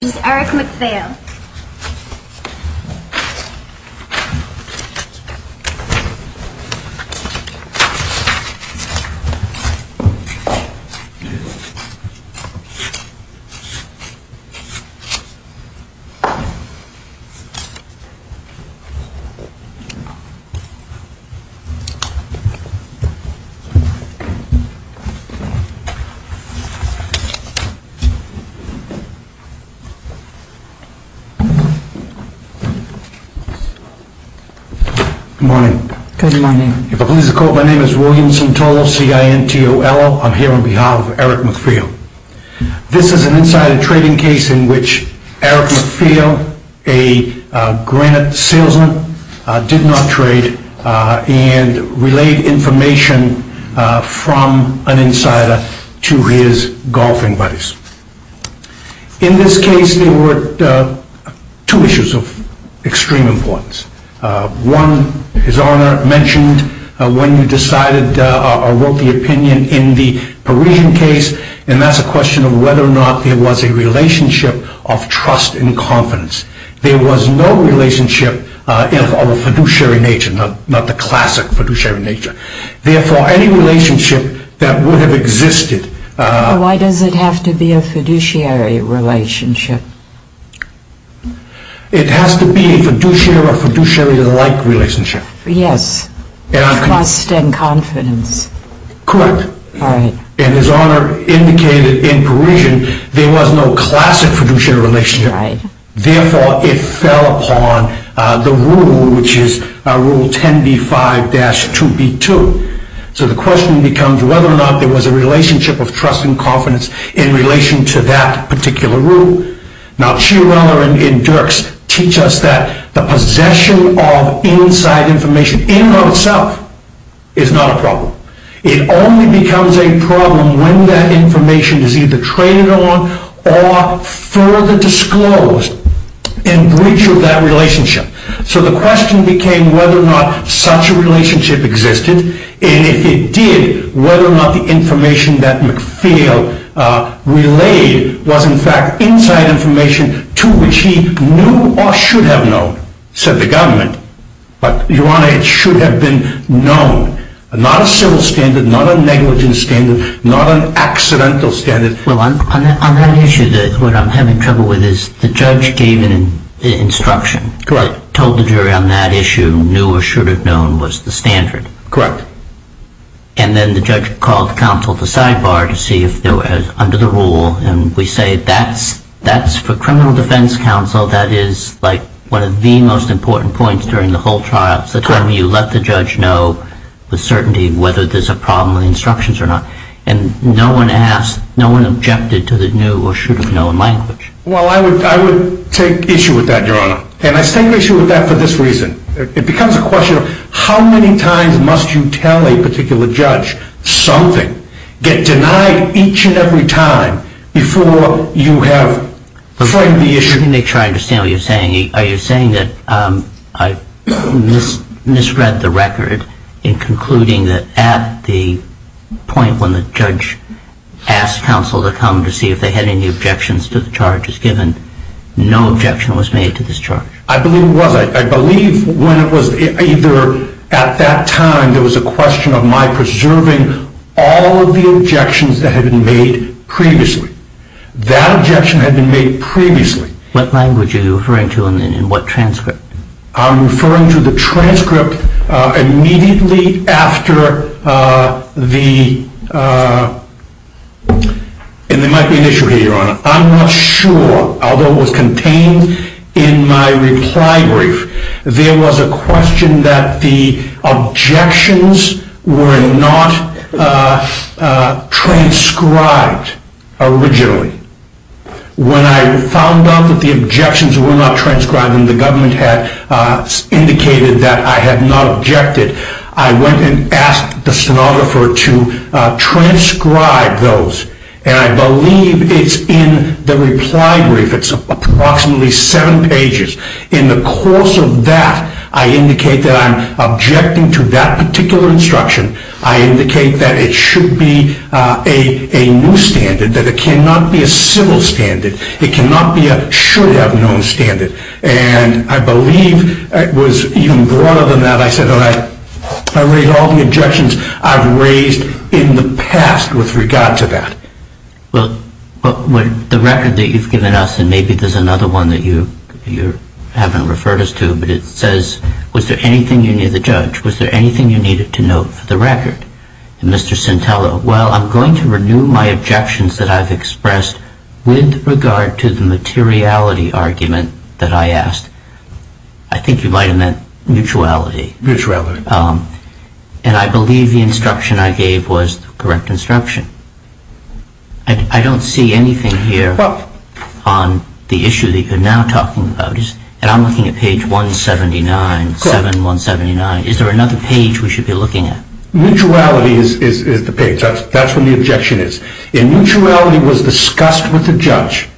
This is Eric McPhail. This is an insider trading case in which Eric McPhail, a granite salesman, did not trade and relayed information from an insider to his golfing buddies. In this case, there were two issues of extreme importance. One, His Honor mentioned when you decided or wrote the opinion in the Parisian case, and that's a question of whether or not there was a relationship of trust and confidence. There was no relationship of a fiduciary nature, not the classic fiduciary nature. Therefore, any relationship that would have existed… Why does it have to be a fiduciary relationship? It has to be a fiduciary or fiduciary-like relationship. Yes. Trust and confidence. Correct. All right. And His Honor indicated in Parisian there was no classic fiduciary relationship. Right. Therefore, it fell upon the rule, which is Rule 10b-5-2b-2. So the question becomes whether or not there was a relationship of trust and confidence in relation to that particular rule. Now, Chiarella and Dirks teach us that the possession of inside information, in and of itself, is not a problem. It only becomes a problem when that information is either traded on or further disclosed in breach of that relationship. So the question became whether or not such a relationship existed. And if it did, whether or not the information that MacPhail relayed was, in fact, inside information to which he knew or should have known, said the government. But, Your Honor, it should have been known. Not a civil standard, not a negligent standard, not an accidental standard. Well, on that issue, what I'm having trouble with is the judge gave an instruction. Correct. Told the jury on that issue, knew or should have known was the standard. Correct. And then the judge called counsel to sidebar to see if it was under the rule. And we say that's for criminal defense counsel. That is, like, one of the most important points during the whole trial. So you let the judge know with certainty whether there's a problem with the instructions or not. And no one asked, no one objected to the knew or should have known language. Well, I would take issue with that, Your Honor. And I take issue with that for this reason. It becomes a question of how many times must you tell a particular judge something, get denied each and every time before you have framed the issue. Let me try to understand what you're saying. Are you saying that I misread the record in concluding that at the point when the judge asked counsel to come to see if they had any objections to the charges given, no objection was made to this charge? I believe it was. I believe when it was either at that time there was a question of my preserving all of the objections that had been made previously. That objection had been made previously. What language are you referring to and in what transcript? I'm referring to the transcript immediately after the, and there might be an issue here, Your Honor. I'm not sure, although it was contained in my reply brief. There was a question that the objections were not transcribed originally. When I found out that the objections were not transcribed and the government had indicated that I had not objected, I went and asked the stenographer to transcribe those, and I believe it's in the reply brief. It's approximately seven pages. In the course of that, I indicate that I'm objecting to that particular instruction. I indicate that it should be a new standard, that it cannot be a civil standard. It cannot be a should-have-known standard, and I believe it was even broader than that. I said that I raised all the objections I've raised in the past with regard to that. Well, the record that you've given us, and maybe there's another one that you haven't referred us to, but it says, was there anything you needed, the judge, was there anything you needed to note for the record? And Mr. Centello, well, I'm going to renew my objections that I've expressed with regard to the materiality argument that I asked. I think you might have meant mutuality. Mutuality. And I believe the instruction I gave was the correct instruction. I don't see anything here on the issue that you're now talking about. And I'm looking at page 179, 7179. Is there another page we should be looking at? Mutuality is the page. That's where the objection is. Mutuality was discussed with the judge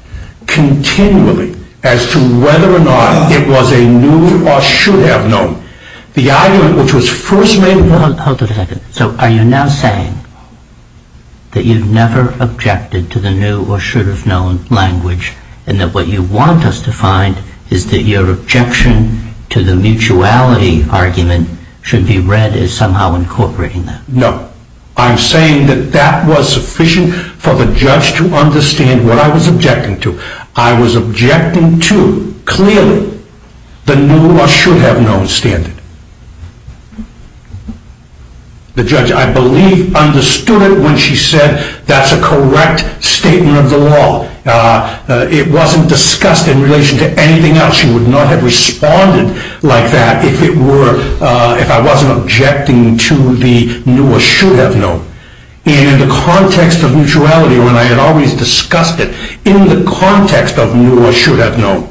continually as to whether or not it was a new or should-have-known. The argument which was first made... Hold on a second. So are you now saying that you've never objected to the new or should-have-known language, and that what you want us to find is that your objection to the mutuality argument should be read as somehow incorporating that? No. I'm saying that that was sufficient for the judge to understand what I was objecting to. I was objecting to, clearly, the new or should-have-known standard. The judge, I believe, understood it when she said that's a correct statement of the law. It wasn't discussed in relation to anything else. She would not have responded like that if I wasn't objecting to the new or should-have-known. And in the context of mutuality, when I had always discussed it in the context of new or should-have-known,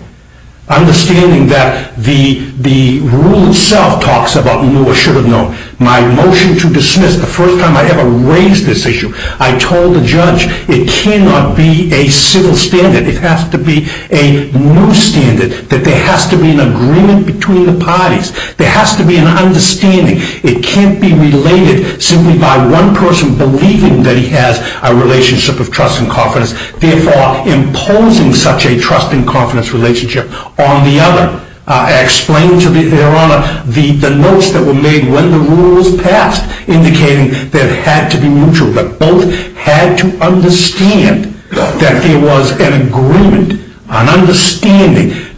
understanding that the rule itself talks about new or should-have-known, my motion to dismiss the first time I ever raised this issue, I told the judge it cannot be a civil standard. It has to be a new standard, that there has to be an agreement between the parties. There has to be an understanding. It can't be related simply by one person believing that he has a relationship of trust and confidence, therefore imposing such a trust and confidence relationship on the other. I explained to the Your Honor the notes that were made when the rules passed, indicating that it had to be mutual, but both had to understand that there was an agreement,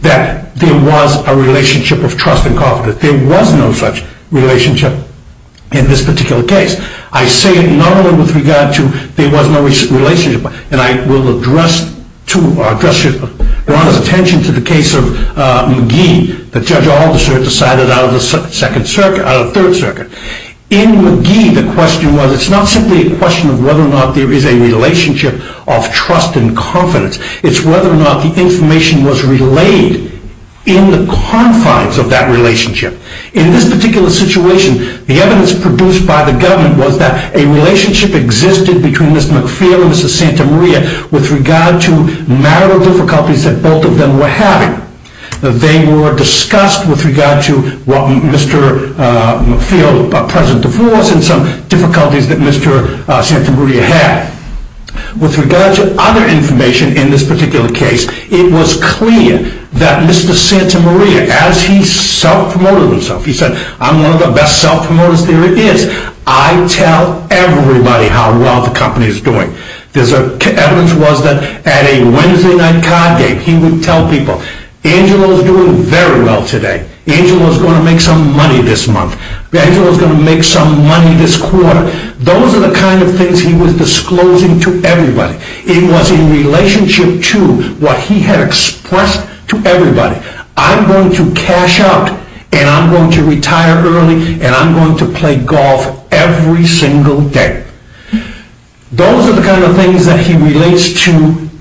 that there was no such relationship in this particular case. I say it not only with regard to there was no relationship, and I will address Your Honor's attention to the case of McGee, that Judge Alderson decided out of the Second Circuit, out of the Third Circuit. In McGee, the question was, it's not simply a question of whether or not there is a relationship of trust and confidence. It's whether or not the information was relayed in the confines of that relationship. In this particular situation, the evidence produced by the government was that a relationship existed between Ms. McPhail and Ms. Santa Maria with regard to marital difficulties that both of them were having. They were discussed with regard to Mr. McPhail's present divorce and some difficulties that Mr. Santa Maria had. With regard to other information in this particular case, it was clear that Mr. Santa Maria, as he self-promoted himself, he said, I'm one of the best self-promoters there is. I tell everybody how well the company is doing. There's evidence that at a Wednesday night card game, he would tell people, Angelo is doing very well today. Angelo is going to make some money this month. Angelo is going to make some money this quarter. Those are the kind of things he was disclosing to everybody. It was in relationship to what he had expressed to everybody. I'm going to cash out and I'm going to retire early and I'm going to play golf every single day. Those are the kind of things that he relates to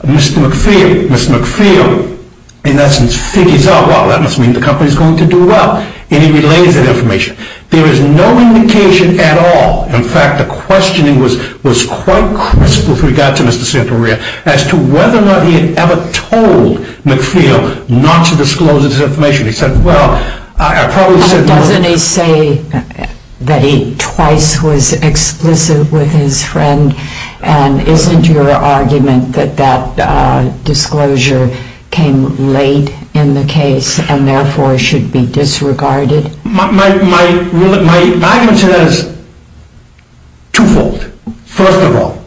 Mr. McPhail. Mr. McPhail, in essence, figures out, wow, that must mean the company is going to do well and he relays that information. There is no indication at all. In fact, the questioning was quite crisp with regard to Mr. Santa Maria as to whether or not he had ever told McPhail not to disclose this information. He said, well, I probably said no. But doesn't he say that he twice was explicit with his friend and isn't your argument that that disclosure came late in the case and therefore should be disregarded? My argument to that is twofold. First of all,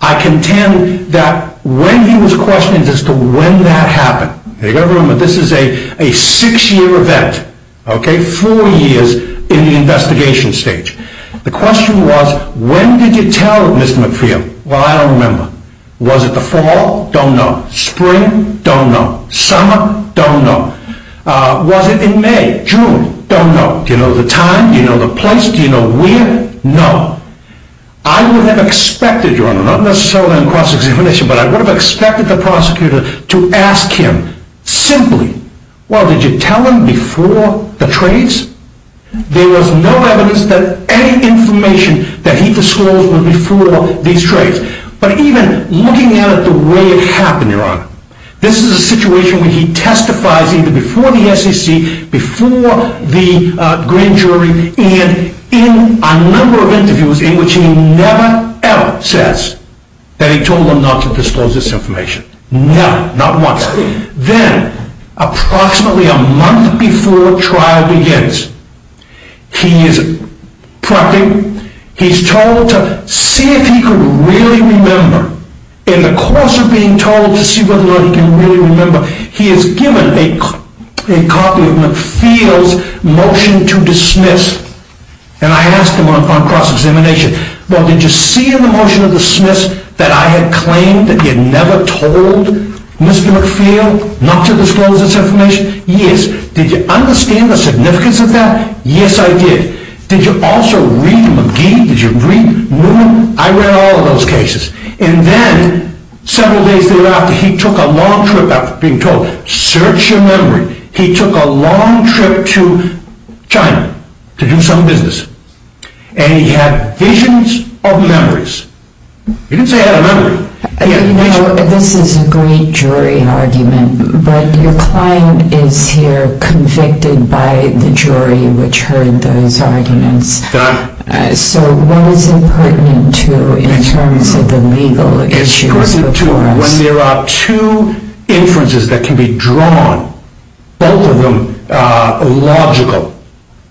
I contend that when he was questioned as to when that happened, you've got to remember this is a six-year event, four years in the investigation stage. The question was, when did you tell Mr. McPhail? Well, I don't remember. Was it the fall? Don't know. Spring? Don't know. Summer? Don't know. Was it in May? June? Don't know. Do you know the time? Do you know the place? Do you know where? No. I would have expected, Your Honor, not necessarily in cross-examination, but I would have expected the prosecutor to ask him simply, well, did you tell him before the trades? There was no evidence that any information that he disclosed was before these trades. But even looking at it the way it happened, Your Honor, this is a situation where he testifies either before the SEC, before the grand jury, and in a number of interviews in which he never, ever says that he told them not to disclose this information. Never. Not once. Then, approximately a month before trial begins, he is prompted, he's told to see if he could really remember, in the course of being told to see whether or not he can really remember, he is given a copy of McPhail's motion to dismiss, and I asked him on cross-examination, well, did you see in the motion of dismiss that I had claimed that he had never told Mr. McPhail not to disclose this information? Yes. Did you understand the significance of that? Yes, I did. Did you also read McGee? Did you read Newman? I read all of those cases. And then, several days thereafter, he took a long trip, after being told, search your memory, he took a long trip to China to do some business, and he had visions of memories. He didn't say he had a memory. You know, this is a great jury argument, so what is it pertinent to in terms of the legal issues? It's pertinent to when there are two inferences that can be drawn, both of them logical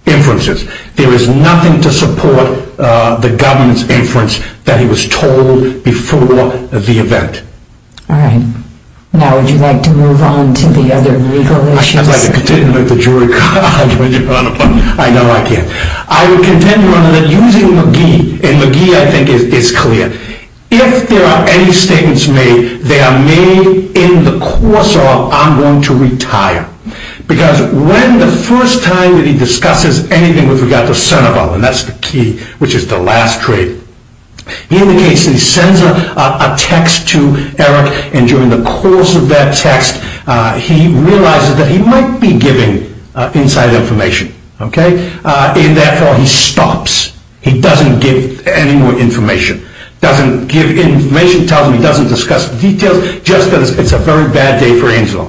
inferences, there is nothing to support the government's inference that he was told before the event. All right. Now, would you like to move on to the other legal issues? I'd like to continue with the jury argument. I know I can. I would contend, Your Honor, that using McGee, and McGee, I think, is clear. If there are any statements made, they are made in the course of I'm going to retire. Because when the first time that he discusses anything with regard to Seneval, and that's the key, which is the last trade, he indicates that he sends a text to Eric, and during the course of that text, he realizes that he might be giving inside information. Okay? And, therefore, he stops. He doesn't give any more information. He doesn't give any information, tells him he doesn't discuss the details, just because it's a very bad day for Angelo.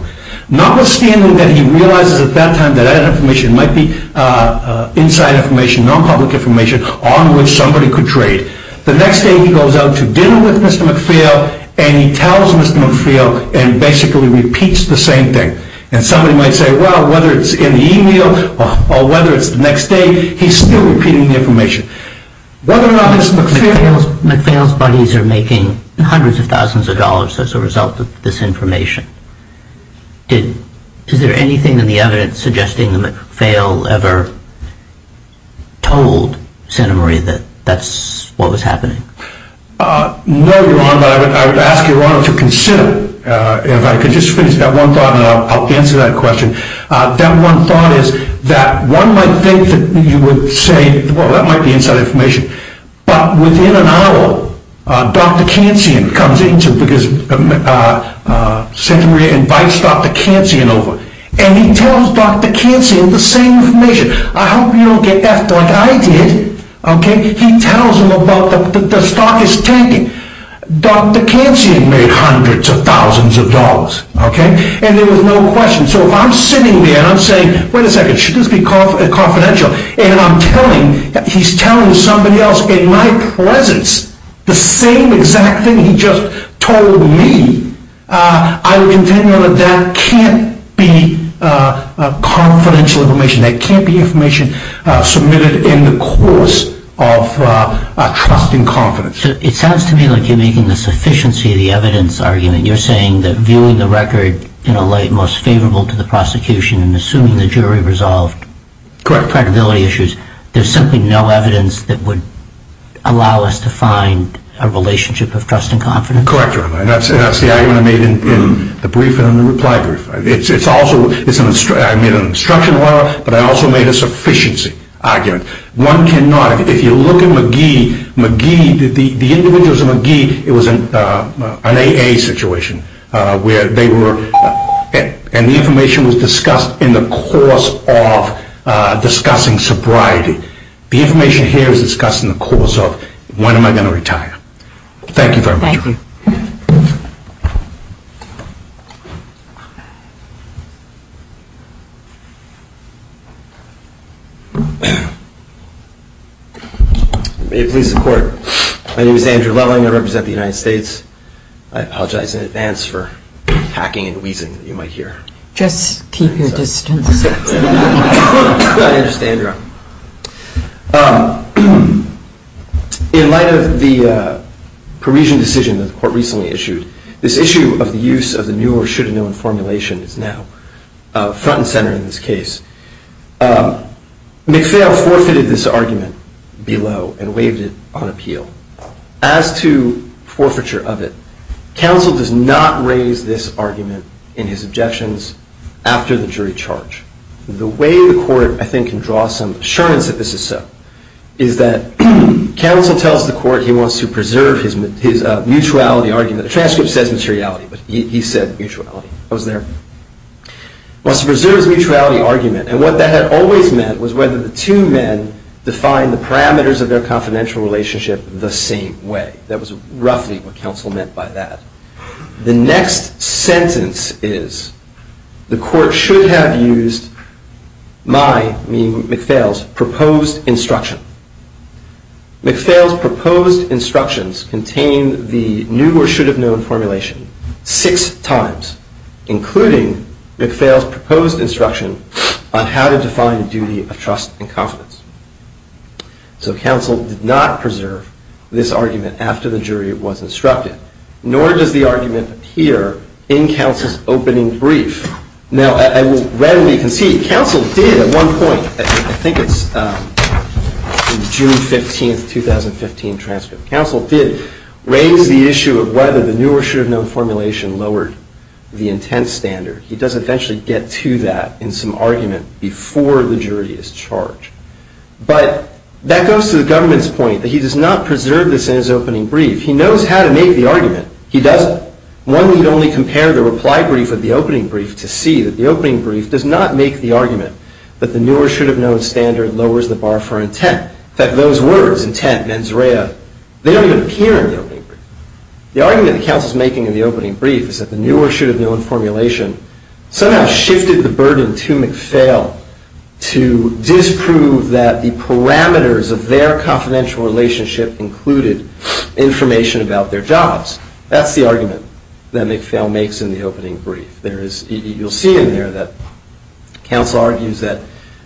Notwithstanding that he realizes at that time that that information might be inside information, non-public information on which somebody could trade, the next day he goes out to dinner with Mr. McPhail, and he tells Mr. McPhail and basically repeats the same thing. And somebody might say, well, whether it's in the email, or whether it's the next day, he's still repeating the information. Whether or not Mr. McPhail... McPhail's buddies are making hundreds of thousands of dollars as a result of this information. Is there anything in the evidence suggesting that McPhail ever told Santa Maria that that's what was happening? No, Your Honor, but I would ask Your Honor to consider, if I could just finish that one thought, and I'll answer that question. That one thought is that one might think that you would say, well, that might be inside information, but within an hour, Dr. Kansian comes into, because Santa Maria invites Dr. Kansian over, and he tells Dr. Kansian the same information. I hope you don't get effed like I did, okay? He tells him about the stock is tanking. Dr. Kansian made hundreds of thousands of dollars, okay? And there was no question. So if I'm sitting there and I'm saying, wait a second, should this be confidential? And I'm telling, he's telling somebody else in my presence the same exact thing he just told me, I would contend that that can't be confidential information. That can't be information submitted in the course of trusting confidence. So it sounds to me like you're making the sufficiency of the evidence argument. You're saying that viewing the record in a light most favorable to the prosecution and assuming the jury resolved credibility issues, there's simply no evidence that would allow us to find a relationship of trust and confidence? Correct, Your Honor. And that's the argument I made in the brief and in the reply brief. It's also, I made an instruction letter, but I also made a sufficiency argument. One cannot, if you look at McGee, the individuals of McGee, it was an AA situation where they were, and the information was discussed in the course of discussing sobriety. The information here is discussed in the course of when am I going to retire. Thank you very much. Thank you. May it please the Court. My name is Andrew Loveling. I represent the United States. I apologize in advance for hacking and wheezing that you might hear. Just keep your distance. I understand, Your Honor. In light of the Parisian decision that the Court recently issued, this issue of the use of the new or should-have-known formulation is now front and center in this case. McPhail forfeited this argument below and waived it on appeal. As to forfeiture of it, counsel does not raise this argument in his objections after the jury charge. The way the Court, I think, can draw some assurance that this is so, is that counsel tells the Court he wants to preserve his mutuality argument. The transcript says materiality, but he said mutuality. I was there. He wants to preserve his mutuality argument, and what that had always meant was whether the two men defined the parameters of their confidential relationship the same way. That was roughly what counsel meant by that. The next sentence is, the Court should have used my, meaning McPhail's, proposed instruction. McPhail's proposed instructions contain the new or should-have-known formulation six times, including McPhail's proposed instruction on how to define a duty of trust and confidence. So counsel did not preserve this argument after the jury was instructed, nor does the argument appear in counsel's opening brief. Now, I will readily concede, counsel did at one point, I think it's June 15, 2015 transcript, counsel did raise the issue of whether the new or should-have-known formulation lowered the intent standard. He does eventually get to that in some argument before the jury is charged. But that goes to the government's point that he does not preserve this in his opening brief. He knows how to make the argument. He doesn't. One would only compare the reply brief with the opening brief to see that the opening brief does not make the argument that the new or should-have-known standard lowers the bar for intent, that those words, intent, mens rea, they don't even appear in the opening brief. The argument that counsel's making in the opening brief is that the new or should-have-known formulation somehow shifted the burden to McPhail to disprove that the parameters of their confidential relationship included information about their jobs. That's the argument that McPhail makes in the opening brief. You'll see in there that counsel argues that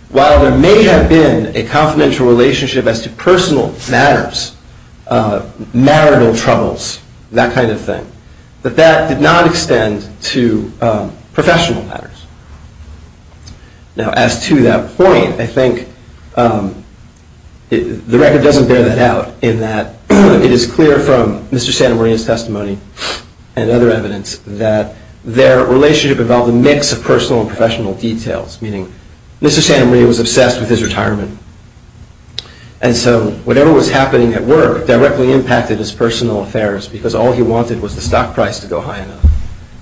while there may have been a confidential relationship as to personal matters, marital troubles, that kind of thing, that that did not extend to professional matters. Now, as to that point, I think the record doesn't bear that out in that it is clear from Mr. Santamaria's testimony and other evidence that their relationship involved a mix of personal and professional details, meaning Mr. Santamaria was obsessed with his retirement. And so whatever was happening at work directly impacted his personal affairs because all he wanted was the stock price to go high enough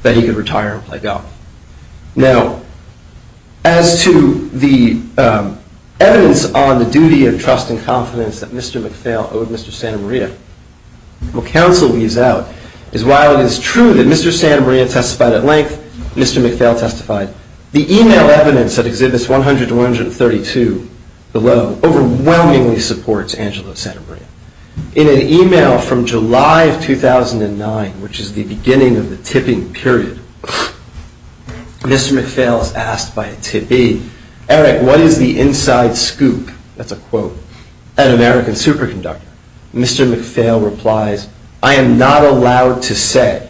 that he could retire and play golf. Now, as to the evidence on the duty of trust and confidence that Mr. McPhail owed Mr. Santamaria, what counsel leaves out is while it is true that Mr. Santamaria testified at length, Mr. McPhail testified, the email evidence that exhibits 100 to 132 below overwhelmingly supports Angelo Santamaria. In an email from July of 2009, which is the beginning of the tipping period, Mr. McPhail is asked by a tippee, Eric, what is the inside scoop, that's a quote, at American Superconductor? Mr. McPhail replies, I am not allowed to say.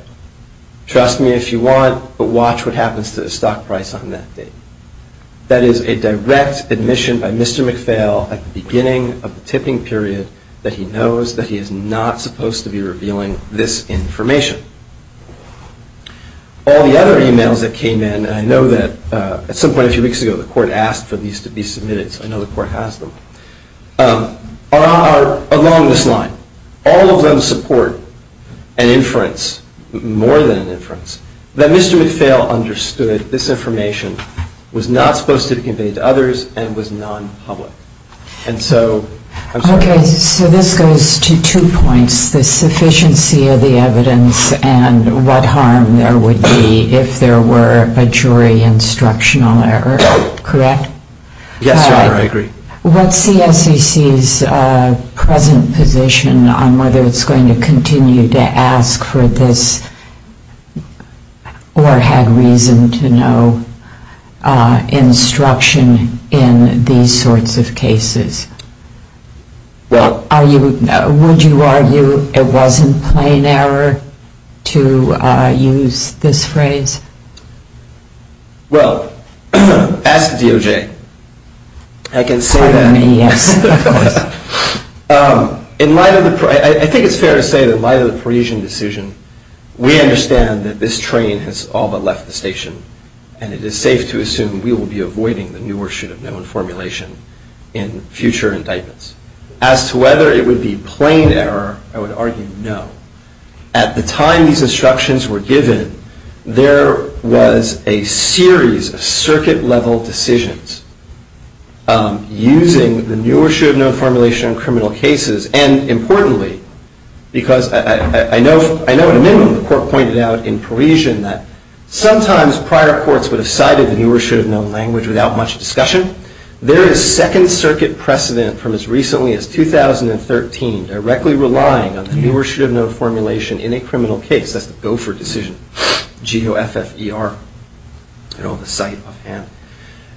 Trust me if you want, but watch what happens to the stock price on that date. That is a direct admission by Mr. McPhail at the beginning of the tipping period that he knows that he is not supposed to be revealing this information. All the other emails that came in, and I know that at some point a few weeks ago the court asked for these to be submitted, so I know the court has them, are along this line. All of them support an inference, more than an inference, that Mr. McPhail understood this information was not supposed to be conveyed to others and was non-public. And so, I'm sorry. Okay, so this goes to two points, the sufficiency of the evidence and what harm there would be if there were a jury instructional error, correct? Yes, Your Honor, I agree. What's the SEC's present position on whether it's going to continue to ask for this or had reason to no instruction in these sorts of cases? Would you argue it wasn't plain error to use this phrase? Well, as to DOJ, I can say that I think it's fair to say that in light of the Parisian decision, we understand that this train has all but left the station, and it is safe to assume we will be avoiding the new or should have known formulation in future indictments. As to whether it would be plain error, I would argue no. At the time these instructions were given, there was a series of circuit-level decisions using the new or should have known formulation in criminal cases, and importantly, because I know at a minimum the Court pointed out in Parisian that sometimes prior courts would have cited the new or should have known language without much discussion. There is Second Circuit precedent from as recently as 2013 directly relying on the new or should have known formulation in a criminal case, that's the Gopher decision, G-O-F-F-E-R,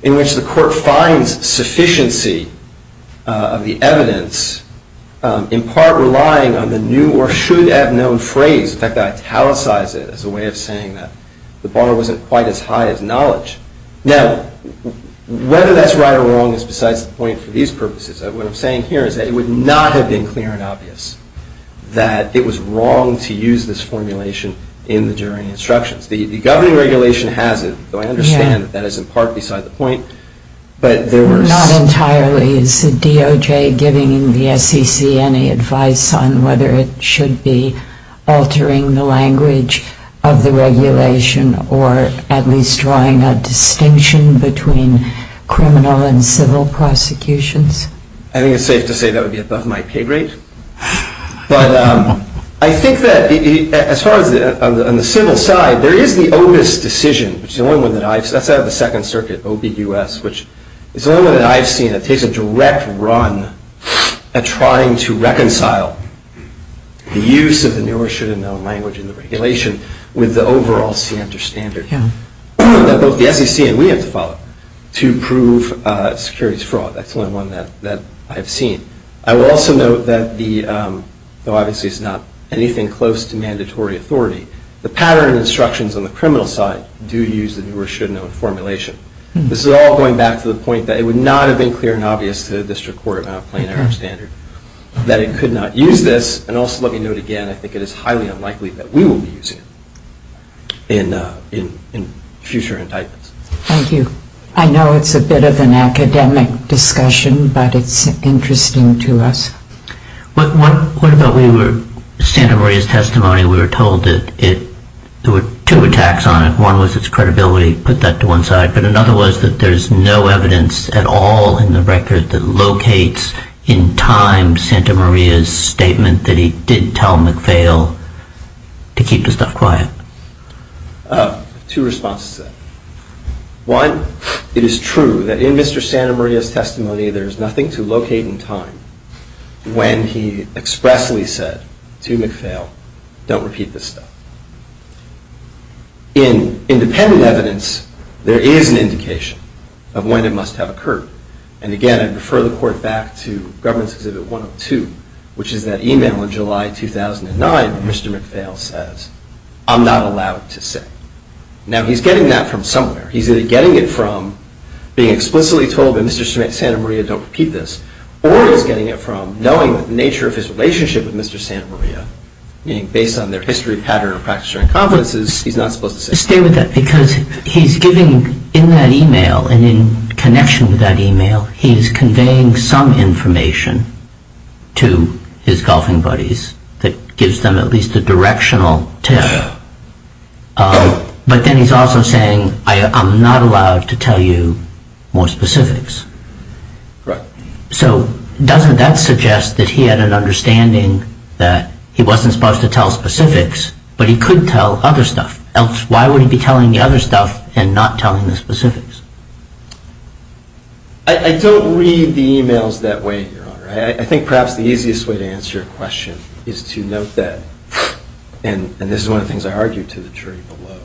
in which the Court finds sufficiency of the evidence in part relying on the new or should have known phrase. In fact, I italicize it as a way of saying that the bar wasn't quite as high as knowledge. Now, whether that's right or wrong is besides the point for these purposes. What I'm saying here is that it would not have been clear and obvious that it was wrong to use this formulation in the jury instructions. The governing regulation has it, though I understand that that is in part beside the point. But there were... Not entirely. Is the DOJ giving the SEC any advice on whether it should be altering the language of the regulation or at least drawing a distinction between criminal and civil prosecutions? I think it's safe to say that would be above my pay grade. But I think that as far as on the civil side, there is the OBIS decision, which is the only one that I've... That's out of the Second Circuit, O-B-U-S, which is the only one that I've seen that takes a direct run at trying to reconcile the use of the new or should have known language in the regulation with the overall standard that both the SEC and we have to follow to prove securities fraud. That's the only one that I've seen. I will also note that the... Though obviously it's not anything close to mandatory authority, the pattern of instructions on the criminal side do use the new or should have known formulation. This is all going back to the point that it would not have been clear and obvious to the District Court about plain error of standard that it could not use this. And also let me note again, I think it is highly unlikely that we will be using it in future indictments. Thank you. I know it's a bit of an academic discussion, but it's interesting to us. What about we were... Santa Maria's testimony, we were told that it... There were two attacks on it. One was its credibility, put that to one side, but another was that there's no evidence at all in the record that locates in time Santa Maria's statement that he did tell MacPhail to keep the stuff quiet. Two responses. One, it is true that in Mr. Santa Maria's testimony, there is nothing to locate in time when he expressly said to MacPhail, don't repeat this stuff. In independent evidence, there is an indication of when it must have occurred. And again, I'd refer the Court back to Government's Exhibit 102, which is that email in July 2009 where Mr. MacPhail says, I'm not allowed to say. Now, he's getting that from somewhere. He's either getting it from being explicitly told that Mr. Santa Maria, don't repeat this, or he's getting it from knowing the nature of his relationship with Mr. Santa Maria, meaning based on their history, pattern, or practice during conferences, he's not supposed to say. Stay with that because he's giving in that email and in connection with that email, he's conveying some information to his golfing buddies that gives them at least a directional tip But then he's also saying, I'm not allowed to tell you more specifics. Correct. So doesn't that suggest that he had an understanding that he wasn't supposed to tell specifics, but he could tell other stuff? Why would he be telling the other stuff and not telling the specifics? I don't read the emails that way, Your Honor. I think perhaps the easiest way to answer your question is to note that, and this is one of the things I argue to the jury below,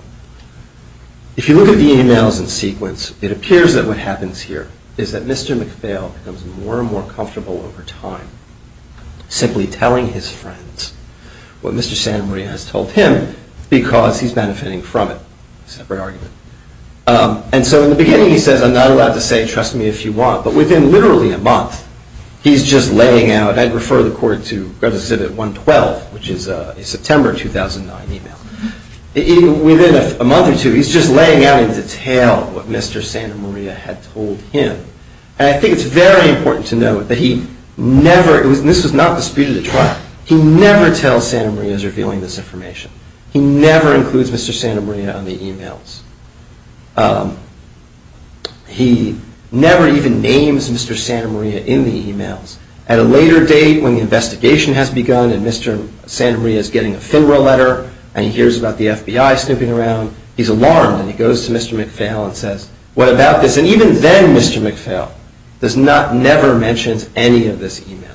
if you look at the emails in sequence, it appears that what happens here is that Mr. McPhail becomes more and more comfortable over time simply telling his friends what Mr. Santa Maria has told him because he's benefiting from it. Separate argument. And so in the beginning, he says, I'm not allowed to say, trust me if you want, but within literally a month, he's just laying out, and I'd refer the court to Gratitude Exhibit 112, which is a September 2009 email. Within a month or two, he's just laying out in detail what Mr. Santa Maria had told him. And I think it's very important to note that he never, and this was not disputed at trial, he never tells Santa Maria he's revealing this information. He never includes Mr. Santa Maria on the emails. He never even names Mr. Santa Maria in the emails. At a later date, when the investigation has begun and Mr. Santa Maria is getting a FINRA letter and he hears about the FBI snooping around, he's alarmed and he goes to Mr. McPhail and says, what about this? And even then, Mr. McPhail never mentions any of this email.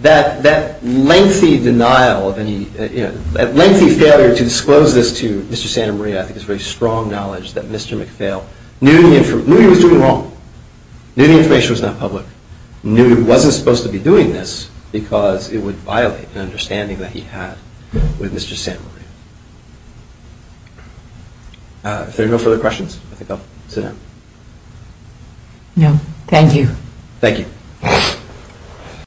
That lengthy denial, that lengthy failure to disclose this to Mr. Santa Maria I think is very strong knowledge that Mr. McPhail knew he was doing wrong, knew the information was not public, knew he wasn't supposed to be doing this because it would violate an understanding that he had with Mr. Santa Maria. If there are no further questions, I think I'll sit down. No, thank you. Thank you.